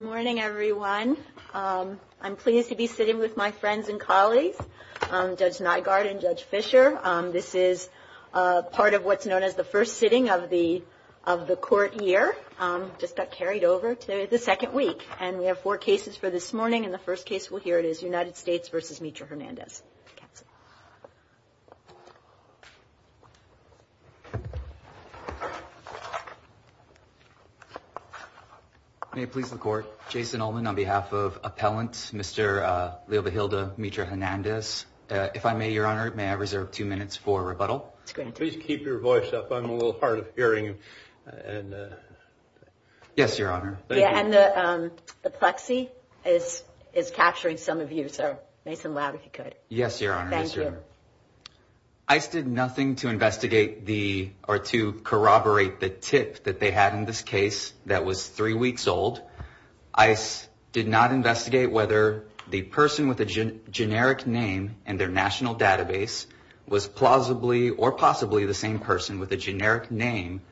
Good morning, everyone. I'm pleased to be sitting with my friends and colleagues, Judge Nygaard and Judge Fischer. This is part of what's known as the first sitting of the court here. It just got carried over to the second week. And we have four cases for this morning, and the first case, well, here it is, United States v. Mitra-Hernandez. Jason Ullman on behalf of appellant, Mr. Leobo-Hilda Mitra-Hernandez. If I may, Your Honor, may I reserve two minutes for rebuttal? Please keep your voice up. I'm a little hard of hearing. Yes, Your Honor. And the plexi is capturing some of you, so make some loud if you could. Yes, Your Honor. Thank you. ICE did nothing to investigate the or to corroborate the tip that they had in this case that was three weeks old. ICE did not investigate whether the person with a generic name in their national database was plausibly or possibly the same person with a generic name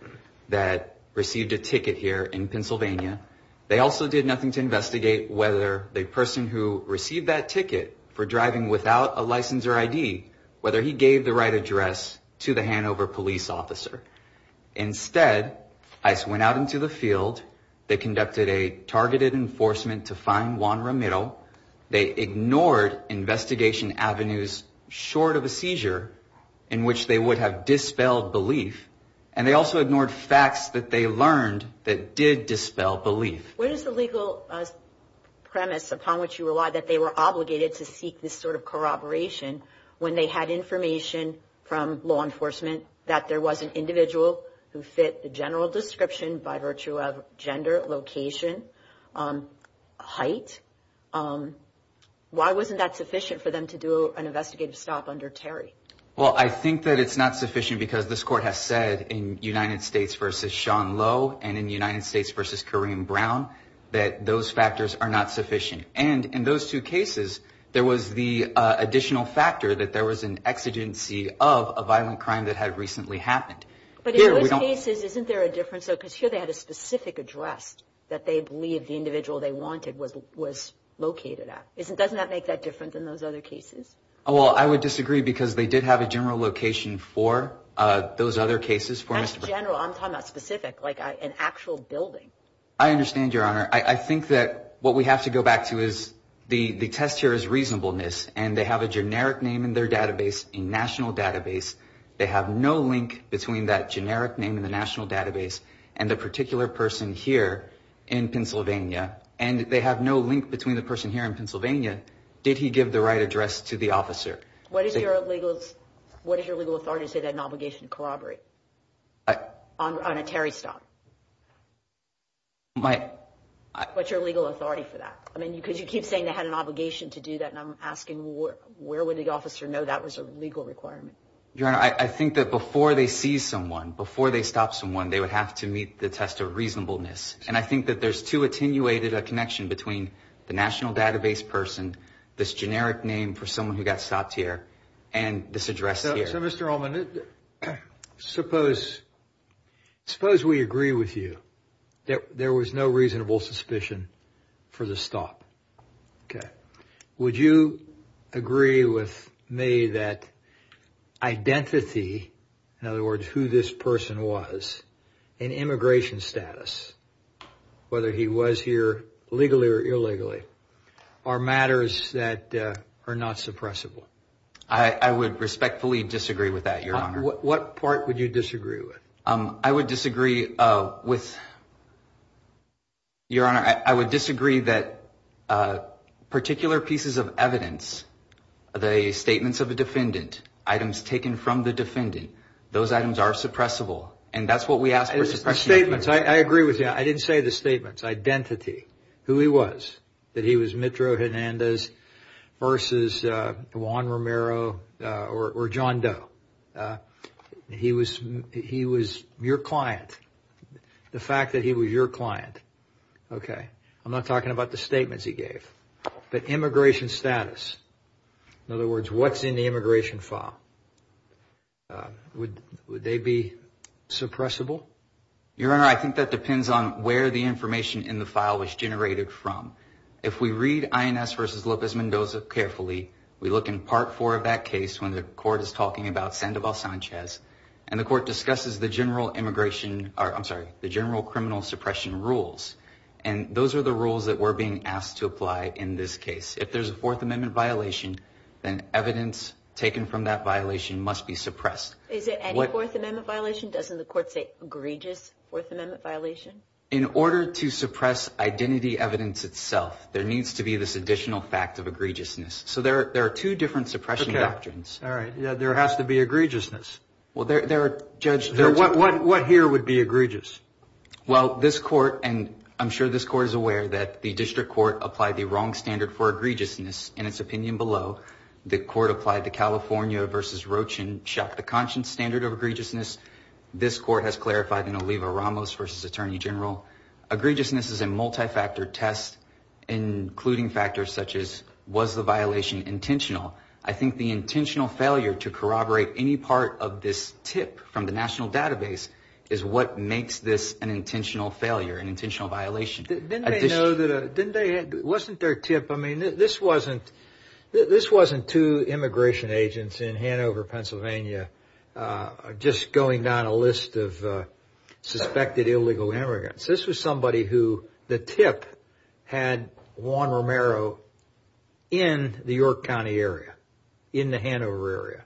that received a ticket here in Pennsylvania. They also did nothing to investigate whether the person who received that ticket for driving without a license or ID, whether he gave the right address to the Hanover police officer. Instead, ICE went out into the field. They conducted a targeted enforcement to find Juan Ramiro. They ignored investigation avenues short of a seizure in which they would have dispelled belief. And they also ignored facts that they learned that did dispel belief. What is the legal premise upon which you rely that they were obligated to seek this sort of corroboration when they had information from law enforcement that there was an individual who fit the general description by virtue of gender, location, height? Why wasn't that sufficient for them to do an investigative stop under Terry? Well, I think that it's not sufficient because this court has said in United States v. Sean Lowe and in United States v. Kareem Brown that those factors are not sufficient. And in those two cases, there was the additional factor that there was an exigency of a violent crime that had recently happened. But in those cases, isn't there a difference? Because here they had a specific address that they believed the individual they wanted was located at. Doesn't that make that different than those other cases? Well, I would disagree because they did have a general location for those other cases. Not general. I'm talking about specific, like an actual building. I understand, Your Honor. I think that what we have to go back to is the test here is reasonableness. And they have a generic name in their database, a national database. They have no link between that generic name in the national database and the particular person here in Pennsylvania. Did he give the right address to the officer? What is your legal authority to say that an obligation to corroborate on a Terry stop? What's your legal authority for that? I mean, because you keep saying they had an obligation to do that. And I'm asking where would the officer know that was a legal requirement? Your Honor, I think that before they see someone, before they stop someone, they would have to meet the test of reasonableness. And I think that there's too attenuated a connection between the national database person, this generic name for someone who got stopped here, and this address here. So, Mr. Ullman, suppose we agree with you that there was no reasonable suspicion for the stop. Would you agree with me that identity, in other words, who this person was, and immigration status, whether he was here legally or illegally, are matters that are not suppressible? I would respectfully disagree with that, Your Honor. What part would you disagree with? I would disagree with, Your Honor, I would disagree that particular pieces of evidence, the statements of a defendant, items taken from the defendant, those items are suppressible. And that's what we ask for suppression. I agree with you. I didn't say the statements. Identity, who he was, that he was Mitro Hernandez versus Juan Romero or John Doe. He was your client. The fact that he was your client. Okay. I'm not talking about the statements he gave, but immigration status. In other words, what's in the immigration file? Would they be suppressible? Your Honor, I think that depends on where the information in the file was generated from. If we read INS versus Lopez Mendoza carefully, we look in part four of that case when the court is talking about Sandoval Sanchez, and the court discusses the general immigration, I'm sorry, the general criminal suppression rules. And those are the rules that we're being asked to apply in this case. If there's a Fourth Amendment violation, then evidence taken from that violation must be suppressed. Is it a Fourth Amendment violation? Doesn't the court say egregious Fourth Amendment violation? In order to suppress identity evidence itself, there needs to be this additional fact of egregiousness. So there are two different suppression doctrines. Okay. All right. There has to be egregiousness. Well, there are, Judge. What here would be egregious? Well, this court, and I'm sure this court is aware that the district court applied the wrong standard for egregiousness in its opinion below. The court applied the California versus Rochin Shack the Conscience standard of egregiousness. This court has clarified in Oliva Ramos versus Attorney General, egregiousness is a multifactor test, including factors such as was the violation intentional? I think the intentional failure to corroborate any part of this tip from the national database is what makes this an intentional failure, an intentional violation. Wasn't there a tip? I mean, this wasn't two immigration agents in Hanover, Pennsylvania, just going down a list of suspected illegal immigrants. This was somebody who the tip had Juan Romero in the York County area, in the Hanover area.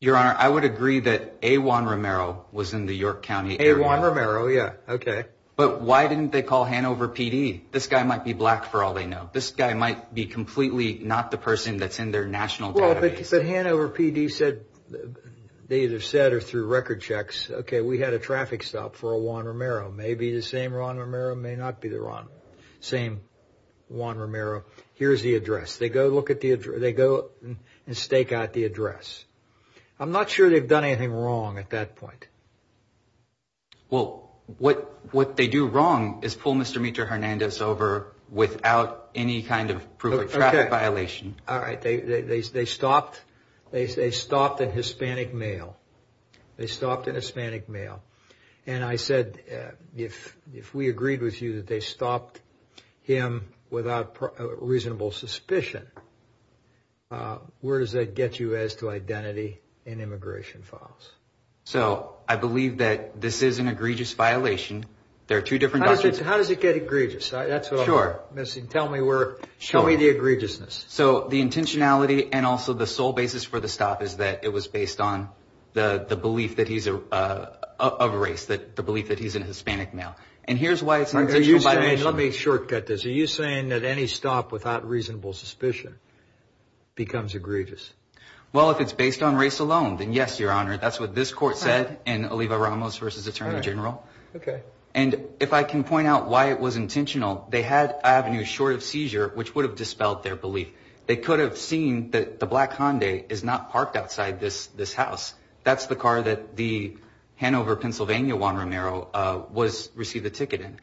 Your Honor, I would agree that A. Juan Romero was in the York County area. A. Juan Romero, yeah. Okay. But why didn't they call Hanover PD? This guy might be black for all they know. This guy might be completely not the person that's in their national database. Well, but Hanover PD said, they either said or through record checks, okay, we had a traffic stop for a Juan Romero. Maybe the same Juan Romero, may not be the same Juan Romero. Here's the address. They go and stake out the address. I'm not sure they've done anything wrong at that point. Well, what they do wrong is pull Mr. Mitra Hernandez over without any kind of proof of traffic violation. All right. They stopped a Hispanic male. They stopped a Hispanic male. And I said, if we agreed with you that they stopped him without reasonable suspicion, where does that get you as to identity and immigration files? So I believe that this is an egregious violation. There are two different documents. How does it get egregious? That's what I'm missing. Sure. Tell me the egregiousness. So the intentionality and also the sole basis for the stop is that it was based on the belief that he's of race, the belief that he's a Hispanic male. And here's why it's an intentional violation. Let me shortcut this. Are you saying that any stop without reasonable suspicion becomes egregious? Well, if it's based on race alone, then yes, Your Honor. That's what this court said in Oliva-Ramos v. Attorney General. Okay. And if I can point out why it was intentional, they had avenues short of seizure, which would have dispelled their belief. They could have seen that the black Hyundai is not parked outside this house. That's the car that the Hanover, Pennsylvania Juan Romero received a ticket in.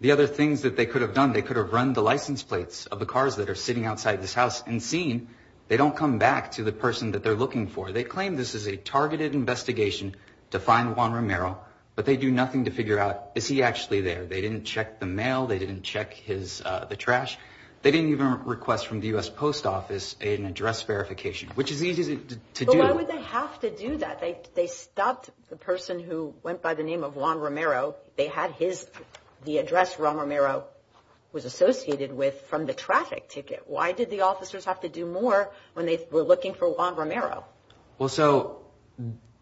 The other things that they could have done, they could have run the license plates of the cars that are sitting outside this house and seen they don't come back to the person that they're looking for. They claim this is a targeted investigation to find Juan Romero, but they do nothing to figure out, is he actually there? They didn't check the mail. They didn't check the trash. They didn't even request from the U.S. Post Office an address verification, which is easy to do. But why would they have to do that? They stopped the person who went by the name of Juan Romero. They had the address Juan Romero was associated with from the traffic ticket. Why did the officers have to do more when they were looking for Juan Romero? Well, so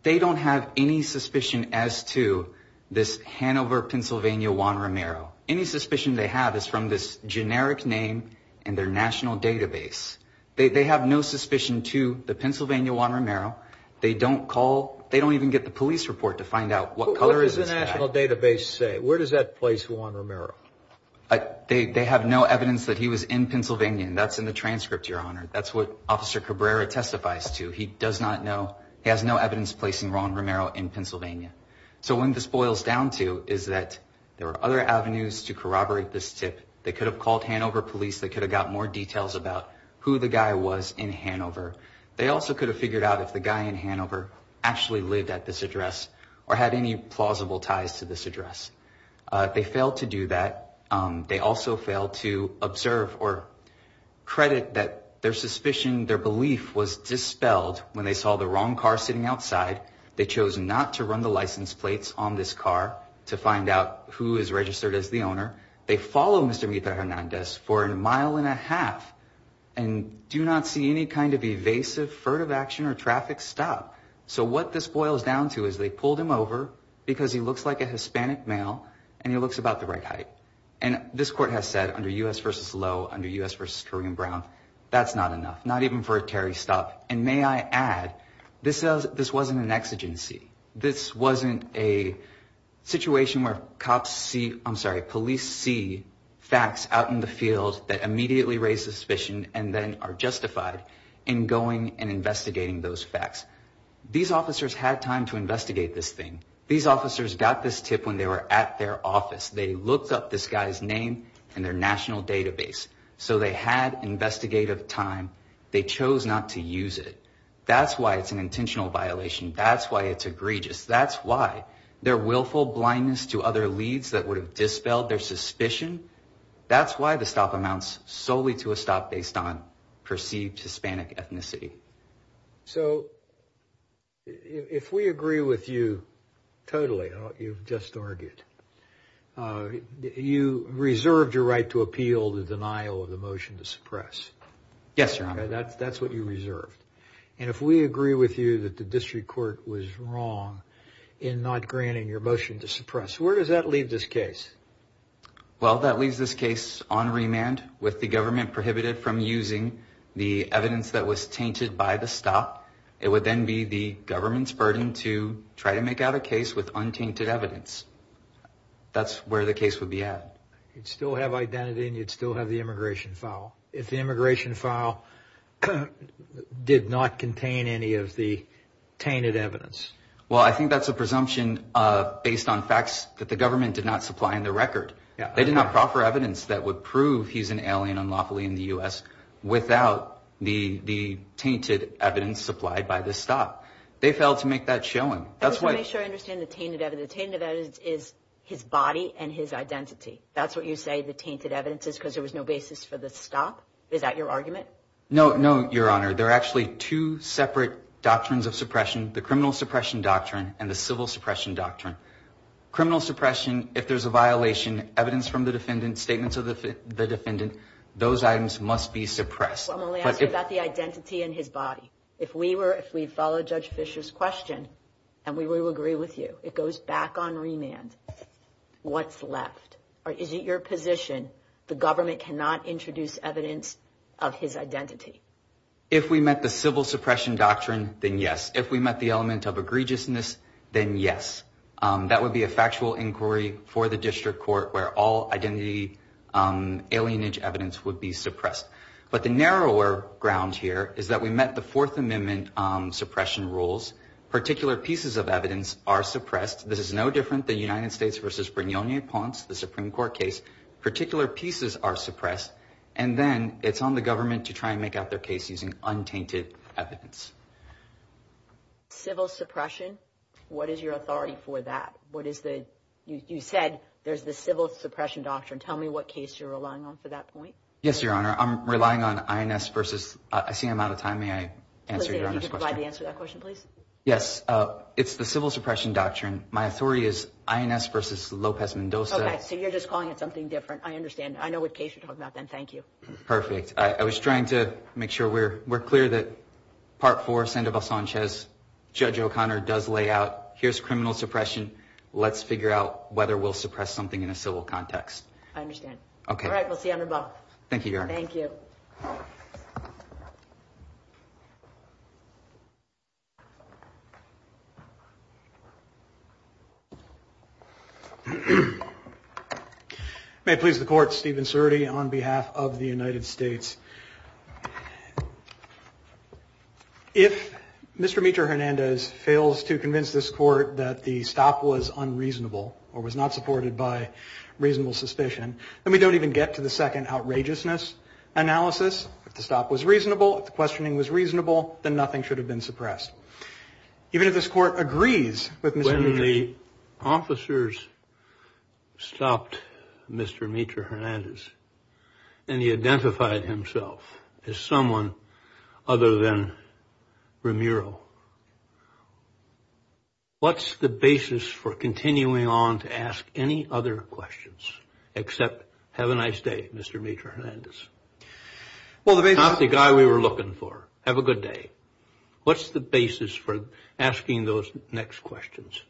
they don't have any suspicion as to this Hanover, Pennsylvania Juan Romero. Any suspicion they have is from this generic name and their national database. They have no suspicion to the Pennsylvania Juan Romero. They don't call. They don't even get the police report to find out what color is his hat. Where does that place Juan Romero? They have no evidence that he was in Pennsylvania, and that's in the transcript, Your Honor. That's what Officer Cabrera testifies to. He does not know. He has no evidence placing Juan Romero in Pennsylvania. So what this boils down to is that there are other avenues to corroborate this tip. They could have called Hanover police. They could have got more details about who the guy was in Hanover. They also could have figured out if the guy in Hanover actually lived at this address or had any plausible ties to this address. They failed to do that. They also failed to observe or credit that their suspicion, their belief was dispelled when they saw the wrong car sitting outside. They chose not to run the license plates on this car to find out who is registered as the owner. They follow Mr. Hernandez for a mile and a half and do not see any kind of evasive furtive action or traffic stop. So what this boils down to is they pulled him over because he looks like a Hispanic male and he looks about the right height. And this court has said under U.S. v. Lowe, under U.S. v. Kareem Brown, that's not enough, not even for a Terry stop. And may I add, this wasn't an exigency. This wasn't a situation where cops see I'm sorry, police see facts out in the field that immediately raise suspicion and then are justified in going and investigating those facts. These officers had time to investigate this thing. These officers got this tip when they were at their office. They looked up this guy's name and their national database. So they had investigative time. They chose not to use it. That's why it's an intentional violation. That's why it's egregious. That's why their willful blindness to other leads that would have dispelled their suspicion. That's why the stop amounts solely to a stop based on perceived Hispanic ethnicity. So. If we agree with you totally, you've just argued you reserved your right to appeal the denial of the motion to suppress. Yes, your honor. That's what you reserved. And if we agree with you that the district court was wrong in not granting your motion to suppress, where does that leave this case? Well, that leaves this case on remand with the government prohibited from using the evidence that was tainted by the stop. It would then be the government's burden to try to make out a case with untainted evidence. That's where the case would be at. You'd still have identity and you'd still have the immigration file. If the immigration file did not contain any of the tainted evidence. Well, I think that's a presumption based on facts that the government did not supply in the record. They did not proffer evidence that would prove he's an alien unlawfully in the U.S. without the the tainted evidence supplied by the stop. They failed to make that showing. That's why I understand the tainted evidence is his body and his identity. That's what you say. The tainted evidence is because there was no basis for the stop. Is that your argument? No, no, your honor. They're actually two separate doctrines of suppression. The criminal suppression doctrine and the civil suppression doctrine. Criminal suppression. If there's a violation evidence from the defendant statements of the defendant, those items must be suppressed. I'm only asking about the identity in his body. If we were if we follow Judge Fisher's question and we will agree with you, it goes back on remand. What's left? Is it your position the government cannot introduce evidence of his identity? If we met the civil suppression doctrine, then yes. If we met the element of egregiousness, then yes. That would be a factual inquiry for the district court where all identity alienage evidence would be suppressed. But the narrower ground here is that we met the Fourth Amendment suppression rules. Particular pieces of evidence are suppressed. This is no different. The United States versus Brignone points the Supreme Court case. Particular pieces are suppressed. And then it's on the government to try and make out their case using untainted evidence. Civil suppression. What is your authority for that? What is the you said? There's the civil suppression doctrine. Tell me what case you're relying on for that point. Yes, your honor. I'm relying on INS versus. I see I'm out of time. May I answer that question, please? Yes. It's the civil suppression doctrine. My authority is INS versus Lopez Mendoza. So you're just calling it something different. I understand. I know what case you're talking about, then. Thank you. Perfect. I was trying to make sure we're we're clear that part for Sandoval Sanchez. Judge O'Connor does lay out. Here's criminal suppression. Let's figure out whether we'll suppress something in a civil context. I understand. OK. All right. We'll see you. Thank you. Thank you. May it please the court. Stephen Surtey on behalf of the United States. If Mr. Mitra Hernandez fails to convince this court that the stop was unreasonable or was not supported by reasonable suspicion, then we don't even get to the second outrageousness analysis. If the stop was reasonable, if the questioning was reasonable, then nothing should have been suppressed. Even if this court agrees with Mr. Hernandez. When the officers stopped Mr. Mitra Hernandez and he identified himself as someone other than Ramiro, what's the basis for continuing on to ask any other questions except have a nice day, Mr. Mitra Hernandez? Not the guy we were looking for. Have a good day. What's the basis for asking those next questions?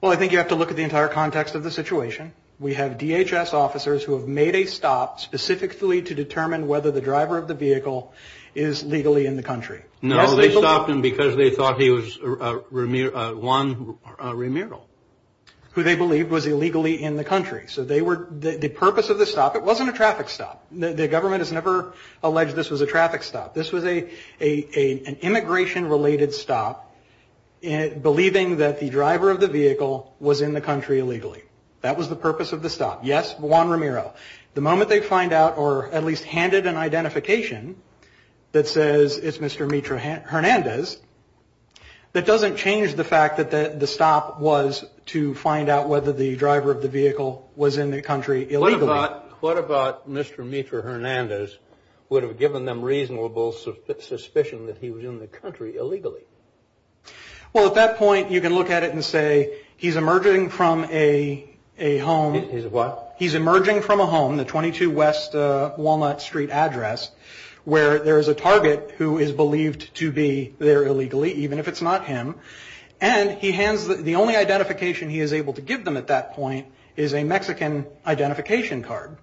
Well, I think you have to look at the entire context of the situation. We have DHS officers who have made a stop specifically to determine whether the driver of the vehicle is legally in the country. No, they stopped him because they thought he was Juan Ramiro. Who they believed was illegally in the country. So the purpose of the stop, it wasn't a traffic stop. The government has never alleged this was a traffic stop. This was an immigration-related stop believing that the driver of the vehicle was in the country illegally. That was the purpose of the stop. Yes, Juan Ramiro. The moment they find out or at least handed an identification that says it's Mr. Mitra Hernandez, that doesn't change the fact that the stop was to find out whether the driver of the vehicle was in the country illegally. What about Mr. Mitra Hernandez would have given them reasonable suspicion that he was in the country illegally? Well, at that point, you can look at it and say he's emerging from a home. He's what? He's emerging from a home, the 22 West Walnut Street address, where there is a target who is believed to be there illegally, even if it's not him. And the only identification he is able to give them at that point is a Mexican identification card.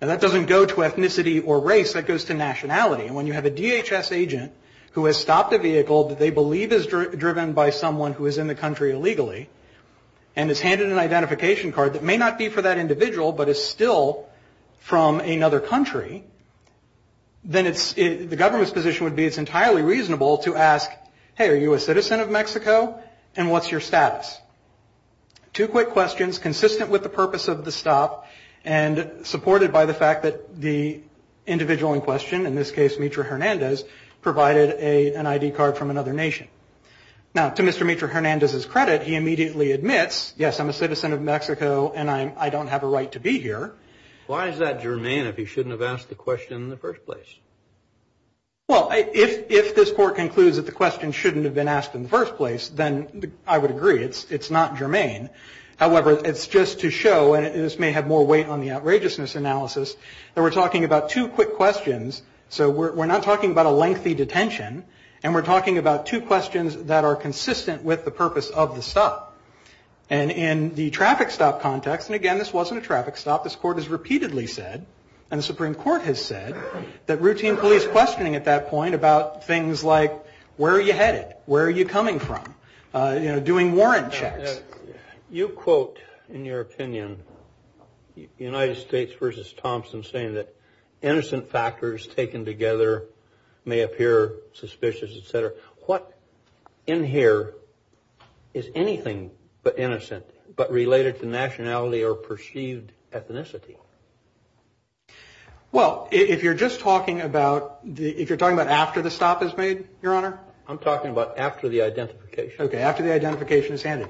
Now, that doesn't go to ethnicity or race. That goes to nationality. And when you have a DHS agent who has stopped a vehicle that they believe is driven by someone who is in the country illegally and is handed an identification card that may not be for that individual but is still from another country, then the government's position would be it's entirely reasonable to ask, hey, are you a citizen of Mexico? And what's your status? Two quick questions consistent with the purpose of the stop and supported by the fact that the individual in question, in this case Mitra Hernandez, provided an ID card from another nation. Now, to Mr. Mitra Hernandez's credit, he immediately admits, yes, I'm a citizen of Mexico and I don't have a right to be here. Why is that germane if he shouldn't have asked the question in the first place? Well, if this court concludes that the question shouldn't have been asked in the first place, then I would agree. It's not germane. However, it's just to show, and this may have more weight on the outrageousness analysis, that we're talking about two quick questions. So we're not talking about a lengthy detention, and we're talking about two questions that are consistent with the purpose of the stop. And in the traffic stop context, and again, this wasn't a traffic stop. This court has repeatedly said, and the Supreme Court has said, that routine police questioning at that point about things like, where are you headed? Where are you coming from? You know, doing warrant checks. You quote, in your opinion, United States versus Thompson, saying that innocent factors taken together may appear suspicious, et cetera. What in here is anything but innocent, but related to nationality or perceived ethnicity? Well, if you're just talking about, if you're talking about after the stop is made, Your Honor? I'm talking about after the identification. Okay, after the identification is handed.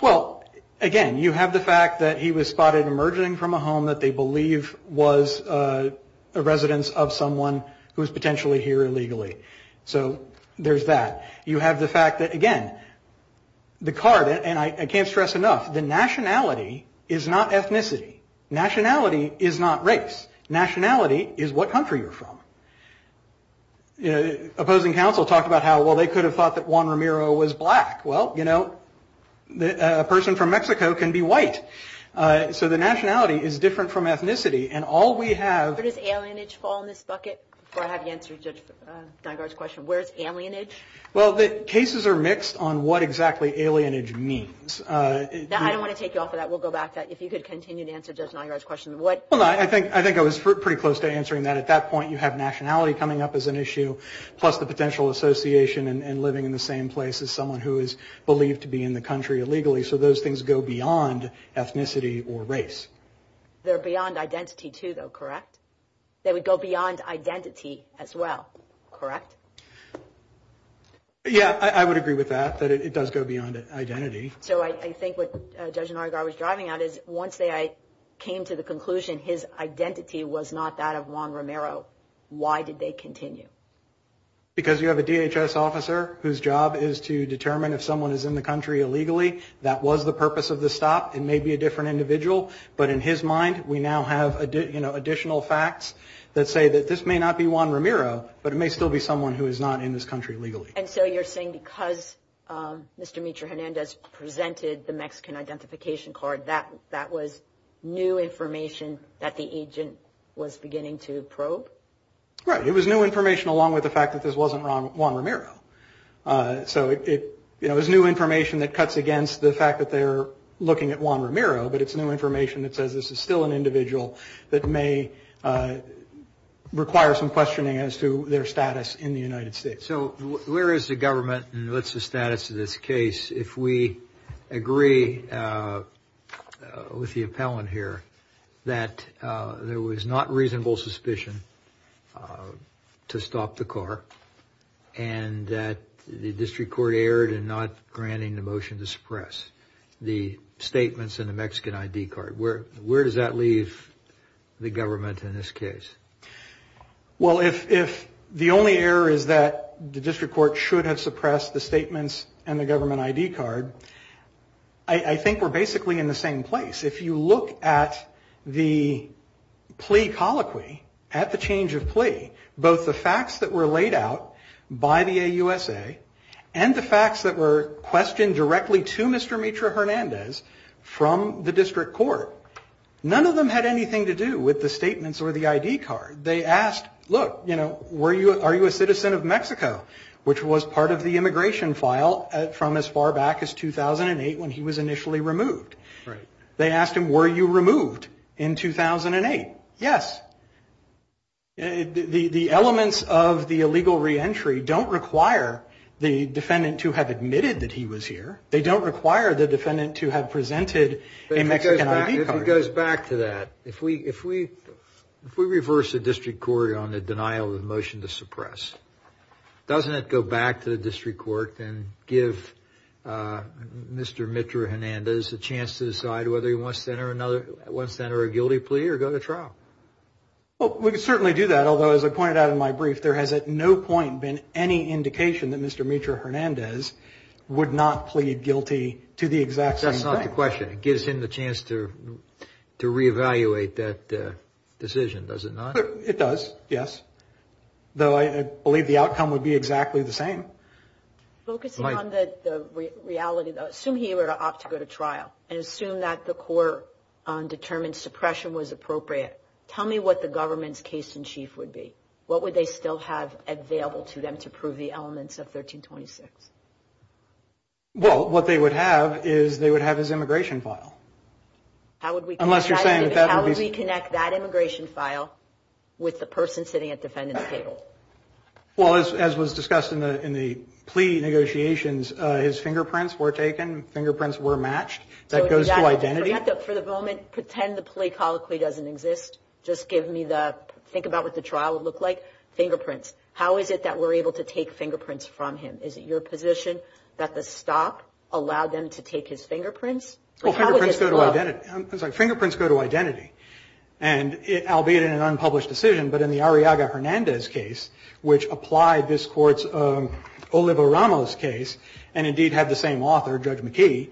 Well, again, you have the fact that he was spotted emerging from a home that they believe was a residence of someone who is potentially here illegally. So there's that. You have the fact that, again, the card, and I can't stress enough, the nationality is not ethnicity. Nationality is not race. Nationality is what country you're from. Opposing counsel talked about how, well, they could have thought that Juan Ramiro was black. Well, you know, a person from Mexico can be white. So the nationality is different from ethnicity. And all we have- Where does alienage fall in this bucket? Before I have you answer Judge Nygaard's question, where's alienage? Well, the cases are mixed on what exactly alienage means. I don't want to take you off of that. We'll go back to that. If you could continue to answer Judge Nygaard's question. I think I was pretty close to answering that. At that point, you have nationality coming up as an issue, plus the potential association and living in the same place as someone who is believed to be in the country illegally. So those things go beyond ethnicity or race. They're beyond identity too, though, correct? They would go beyond identity as well, correct? Yeah, I would agree with that, that it does go beyond identity. So I think what Judge Nygaard was driving at is once they came to the conclusion his identity was not that of Juan Romero, why did they continue? Because you have a DHS officer whose job is to determine if someone is in the country illegally. That was the purpose of the stop. It may be a different individual. But in his mind, we now have additional facts that say that this may not be Juan Romero, but it may still be someone who is not in this country illegally. And so you're saying because Mr. Mitra Hernandez presented the Mexican identification card, that that was new information that the agent was beginning to probe? Right. It was new information along with the fact that this wasn't Juan Romero. So it was new information that cuts against the fact that they're looking at Juan Romero, but it's new information that says this is still an individual that may require some questioning as to their status in the United States. Okay. So where is the government and what's the status of this case if we agree with the appellant here that there was not reasonable suspicion to stop the car and that the district court erred in not granting the motion to suppress the statements in the Mexican ID card? Where does that leave the government in this case? Well, if the only error is that the district court should have suppressed the statements in the government ID card, I think we're basically in the same place. If you look at the plea colloquy, at the change of plea, both the facts that were laid out by the AUSA and the facts that were questioned directly to Mr. Mitra Hernandez from the district court, none of them had anything to do with the statements or the ID card. They asked, look, you know, are you a citizen of Mexico, which was part of the immigration file from as far back as 2008 when he was initially removed. Right. They asked him, were you removed in 2008? Yes. The elements of the illegal reentry don't require the defendant to have admitted that he was here. They don't require the defendant to have presented a Mexican ID card. If it goes back to that, if we reverse the district court on the denial of the motion to suppress, doesn't it go back to the district court and give Mr. Mitra Hernandez a chance to decide whether he wants to enter a guilty plea or go to trial? Well, we could certainly do that, although, as I pointed out in my brief, there has at no point been any indication that Mr. Mitra Hernandez would not plead guilty to the exact same thing. That's not the question. It gives him the chance to reevaluate that decision, does it not? It does, yes, though I believe the outcome would be exactly the same. Focusing on the reality, though, assume he were to opt to go to trial and assume that the court determined suppression was appropriate. Tell me what the government's case in chief would be. What would they still have available to them to prove the elements of 1326? Well, what they would have is they would have his immigration file. How would we connect that immigration file with the person sitting at defendant's table? Well, as was discussed in the plea negotiations, his fingerprints were taken, fingerprints were matched, that goes to identity. For the moment, pretend the plea colloquy doesn't exist. Just give me the, think about what the trial would look like. Fingerprints. How is it that we're able to take fingerprints from him? Is it your position that the stop allowed them to take his fingerprints? Well, fingerprints go to identity. I'm sorry. Fingerprints go to identity. And albeit in an unpublished decision, but in the Arriaga-Hernandez case, which applied this Court's Oliva-Ramos case, and indeed had the same author, Judge McKee,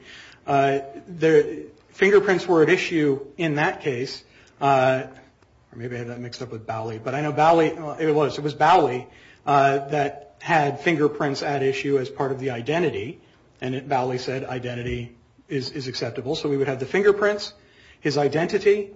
fingerprints were at issue in that case. Maybe I had that mixed up with Bowley, but I know Bowley, it was. It was Bowley that had fingerprints at issue as part of the identity, and Bowley said identity is acceptable. So we would have the fingerprints, his identity,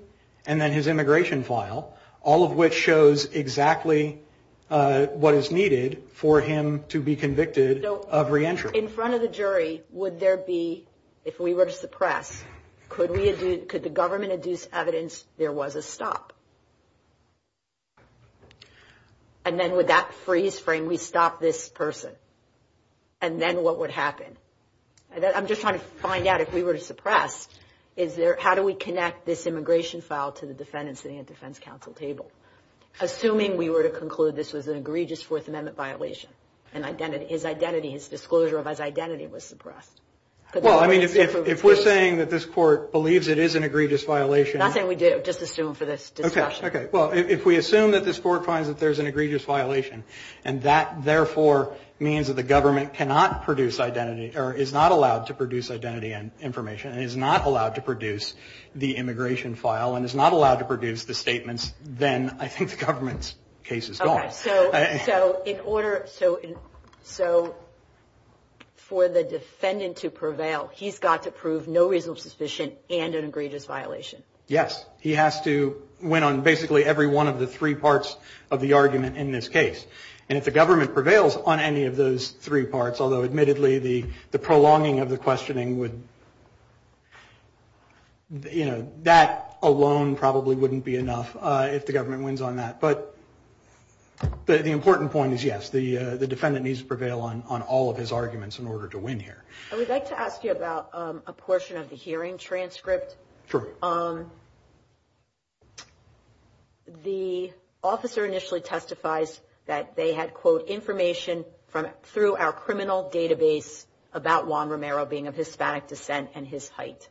and then his immigration file, all of which shows exactly what is needed for him to be convicted of reentry. In front of the jury, would there be, if we were to suppress, could the government adduce evidence there was a stop? And then would that freeze frame, we stop this person, and then what would happen? I'm just trying to find out if we were to suppress, how do we connect this immigration file to the defendant sitting at the defense counsel table? Assuming we were to conclude this was an egregious Fourth Amendment violation, and his identity, his disclosure of his identity was suppressed. Well, I mean, if we're saying that this Court believes it is an egregious violation. I'm not saying we do, just assume for this discussion. Okay. Well, if we assume that this Court finds that there's an egregious violation, and that therefore means that the government cannot produce identity, or is not allowed to produce identity and information, and is not allowed to produce the immigration file, and is not allowed to produce the statements, then I think the government's case is gone. Okay. So in order, so for the defendant to prevail, he's got to prove no reason of suspicion and an egregious violation? Yes. He has to win on basically every one of the three parts of the argument in this case. And if the government prevails on any of those three parts, although admittedly the prolonging of the questioning would, you know, that alone probably wouldn't be enough if the government wins on that. But the important point is, yes, the defendant needs to prevail on all of his arguments in order to win here. I would like to ask you about a portion of the hearing transcript. Sure. The officer initially testifies that they had, quote, information through our criminal database about Juan Romero being of Hispanic descent and his height.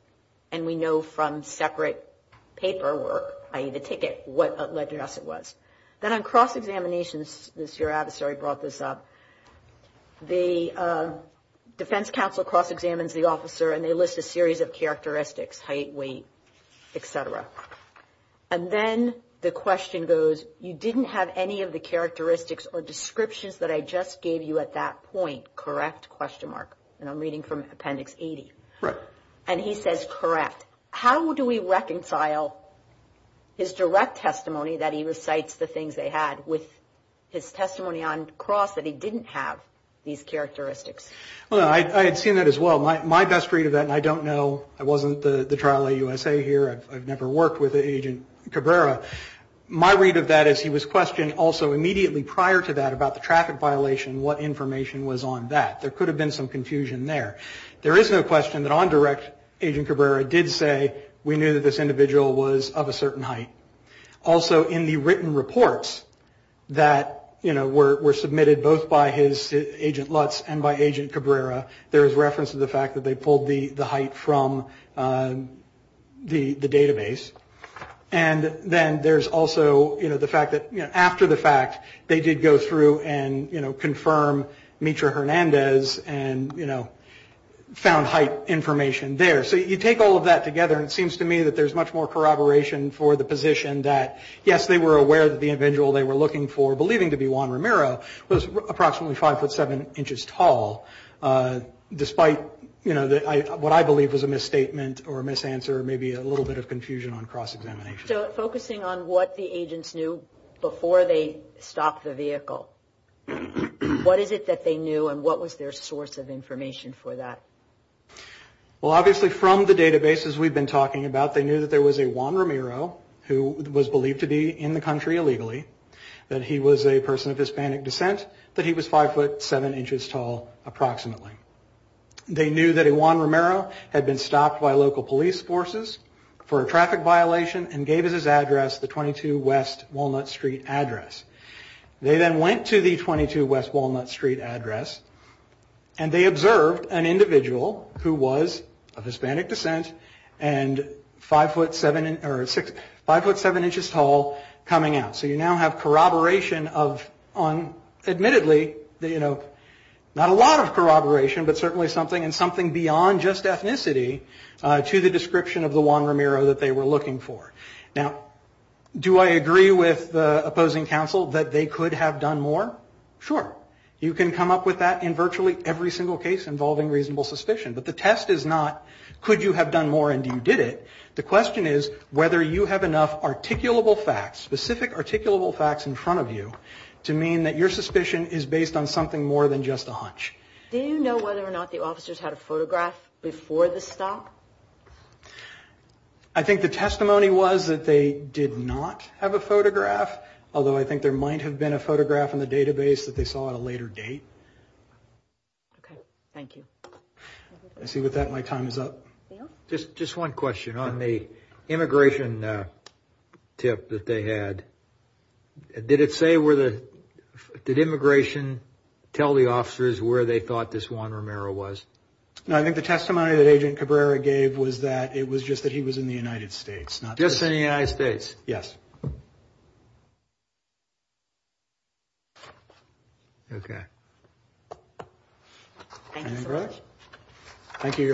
And we know from separate paperwork, i.e., the ticket, what address it was. Then on cross-examinations, as your adversary brought this up, the defense counsel cross-examines the officer and they list a series of characteristics, height, weight, et cetera. And then the question goes, you didn't have any of the characteristics or descriptions that I just gave you at that point, correct? And I'm reading from Appendix 80. Right. And he says, correct. How do we reconcile his direct testimony that he recites the things they had with his testimony on cross that he didn't have these characteristics? Well, I had seen that as well. My best read of that, and I don't know, I wasn't the trial at USA here. I've never worked with Agent Cabrera. My read of that is he was questioned also immediately prior to that about the traffic violation, what information was on that. There could have been some confusion there. There is no question that on direct, Agent Cabrera did say we knew that this individual was of a certain height. Also, in the written reports that were submitted both by his agent Lutz and by Agent Cabrera, there is reference to the fact that they pulled the height from the database. And then there's also the fact that after the fact, they did go through and, you know, confirm Mitra Hernandez and, you know, found height information there. So you take all of that together, and it seems to me that there's much more corroboration for the position that, yes, they were aware that the individual they were looking for, believing to be Juan Ramiro, was approximately 5'7 inches tall, despite, you know, what I believe was a misstatement or a misanswer or maybe a little bit of confusion on cross-examination. So focusing on what the agents knew before they stopped the vehicle, what is it that they knew and what was their source of information for that? Well, obviously from the databases we've been talking about, they knew that there was a Juan Ramiro who was believed to be in the country illegally, that he was a person of Hispanic descent, that he was 5'7 inches tall approximately. They knew that a Juan Ramiro had been stopped by local police forces for a traffic violation and gave us his address, the 22 West Walnut Street address. They then went to the 22 West Walnut Street address, and they observed an individual who was of Hispanic descent and 5'7 inches tall coming out. So you now have corroboration of, admittedly, you know, not a lot of corroboration, but certainly something and something beyond just ethnicity to the description of the Juan Ramiro that they were looking for. Now, do I agree with the opposing counsel that they could have done more? Sure. You can come up with that in virtually every single case involving reasonable suspicion, but the test is not could you have done more and you did it. The question is whether you have enough articulable facts, specific articulable facts in front of you, to mean that your suspicion is based on something more than just a hunch. Do you know whether or not the officers had a photograph before the stop? I think the testimony was that they did not have a photograph, although I think there might have been a photograph in the database that they saw at a later date. Okay. Thank you. I see with that my time is up. Just one question. On the immigration tip that they had, did it say where the did immigration tell the officers where they thought this Juan Ramiro was? No, I think the testimony that Agent Cabrera gave was that it was just that he was in the United States. Not just in the United States. Yes. Okay. Thank you. Thank you.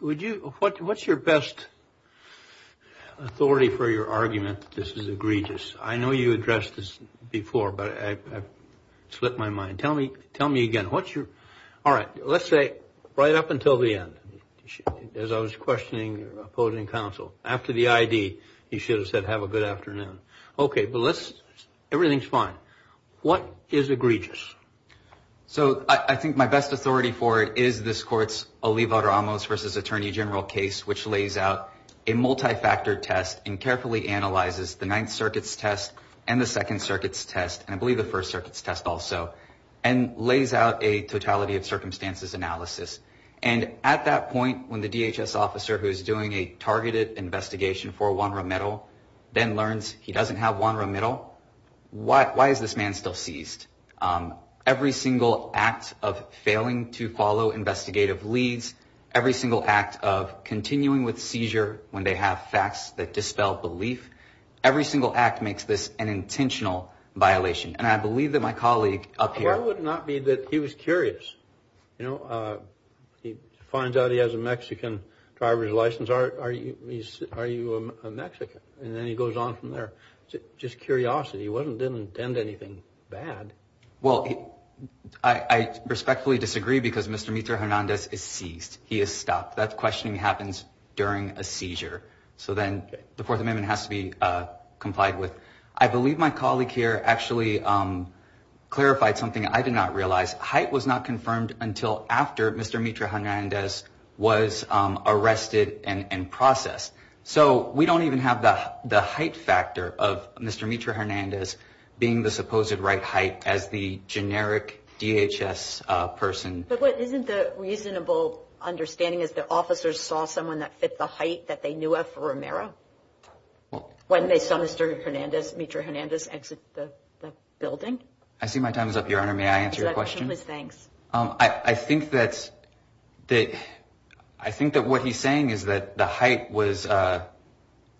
Would you what's your best authority for your argument? This is egregious. I know you addressed this before, but I slipped my mind. Tell me. Tell me again. What's your. All right. Let's say right up until the end, as I was questioning opposing counsel. After the I.D., he should have said have a good afternoon. Okay. But let's. Everything's fine. What is egregious? So I think my best authority for it is this court's Oliva Ramos versus Attorney General case, which lays out a multifactor test and carefully analyzes the Ninth Circuit's test and the Second Circuit's test, and I believe the First Circuit's test also and lays out a totality of circumstances analysis. And at that point, when the DHS officer who is doing a targeted investigation for one remittal then learns he doesn't have one remittal. Why? Why is this man still seized? Every single act of failing to follow investigative leads. Every single act of continuing with seizure when they have facts that dispel belief. Every single act makes this an intentional violation. And I believe that my colleague up here would not be that he was curious. You know, he finds out he has a Mexican driver's license. Are you are you a Mexican? And then he goes on from there. Just curiosity. He wasn't didn't intend anything bad. Well, I respectfully disagree because Mr. He is stopped. That's questioning happens during a seizure. So then the Fourth Amendment has to be complied with. I believe my colleague here actually clarified something I did not realize. Height was not confirmed until after Mr. Mitra Hernandez was arrested and processed. So we don't even have the height factor of Mr. Mitra Hernandez being the supposed right height as the generic DHS person. But what isn't the reasonable understanding is that officers saw someone that fit the height that they knew of for Romero? Well, when they saw Mr. Hernandez, Mitra Hernandez exit the building. I see my time is up, Your Honor. May I answer your question? Thanks. I think that's that. I think that what he's saying is that the height was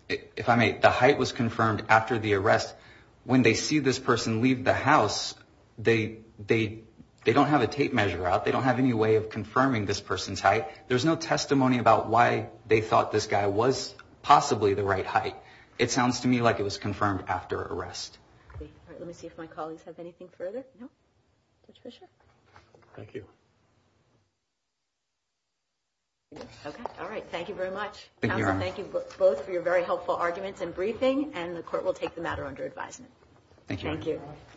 if I made the height was confirmed after the arrest. When they see this person leave the house, they they they don't have a tape measure out. They don't have any way of confirming this person's height. There's no testimony about why they thought this guy was possibly the right height. It sounds to me like it was confirmed after arrest. Let me see if my colleagues have anything further. Thank you. All right. Thank you very much. Thank you both for your very helpful arguments and briefing. And the court will take the matter under advisement. Thank you.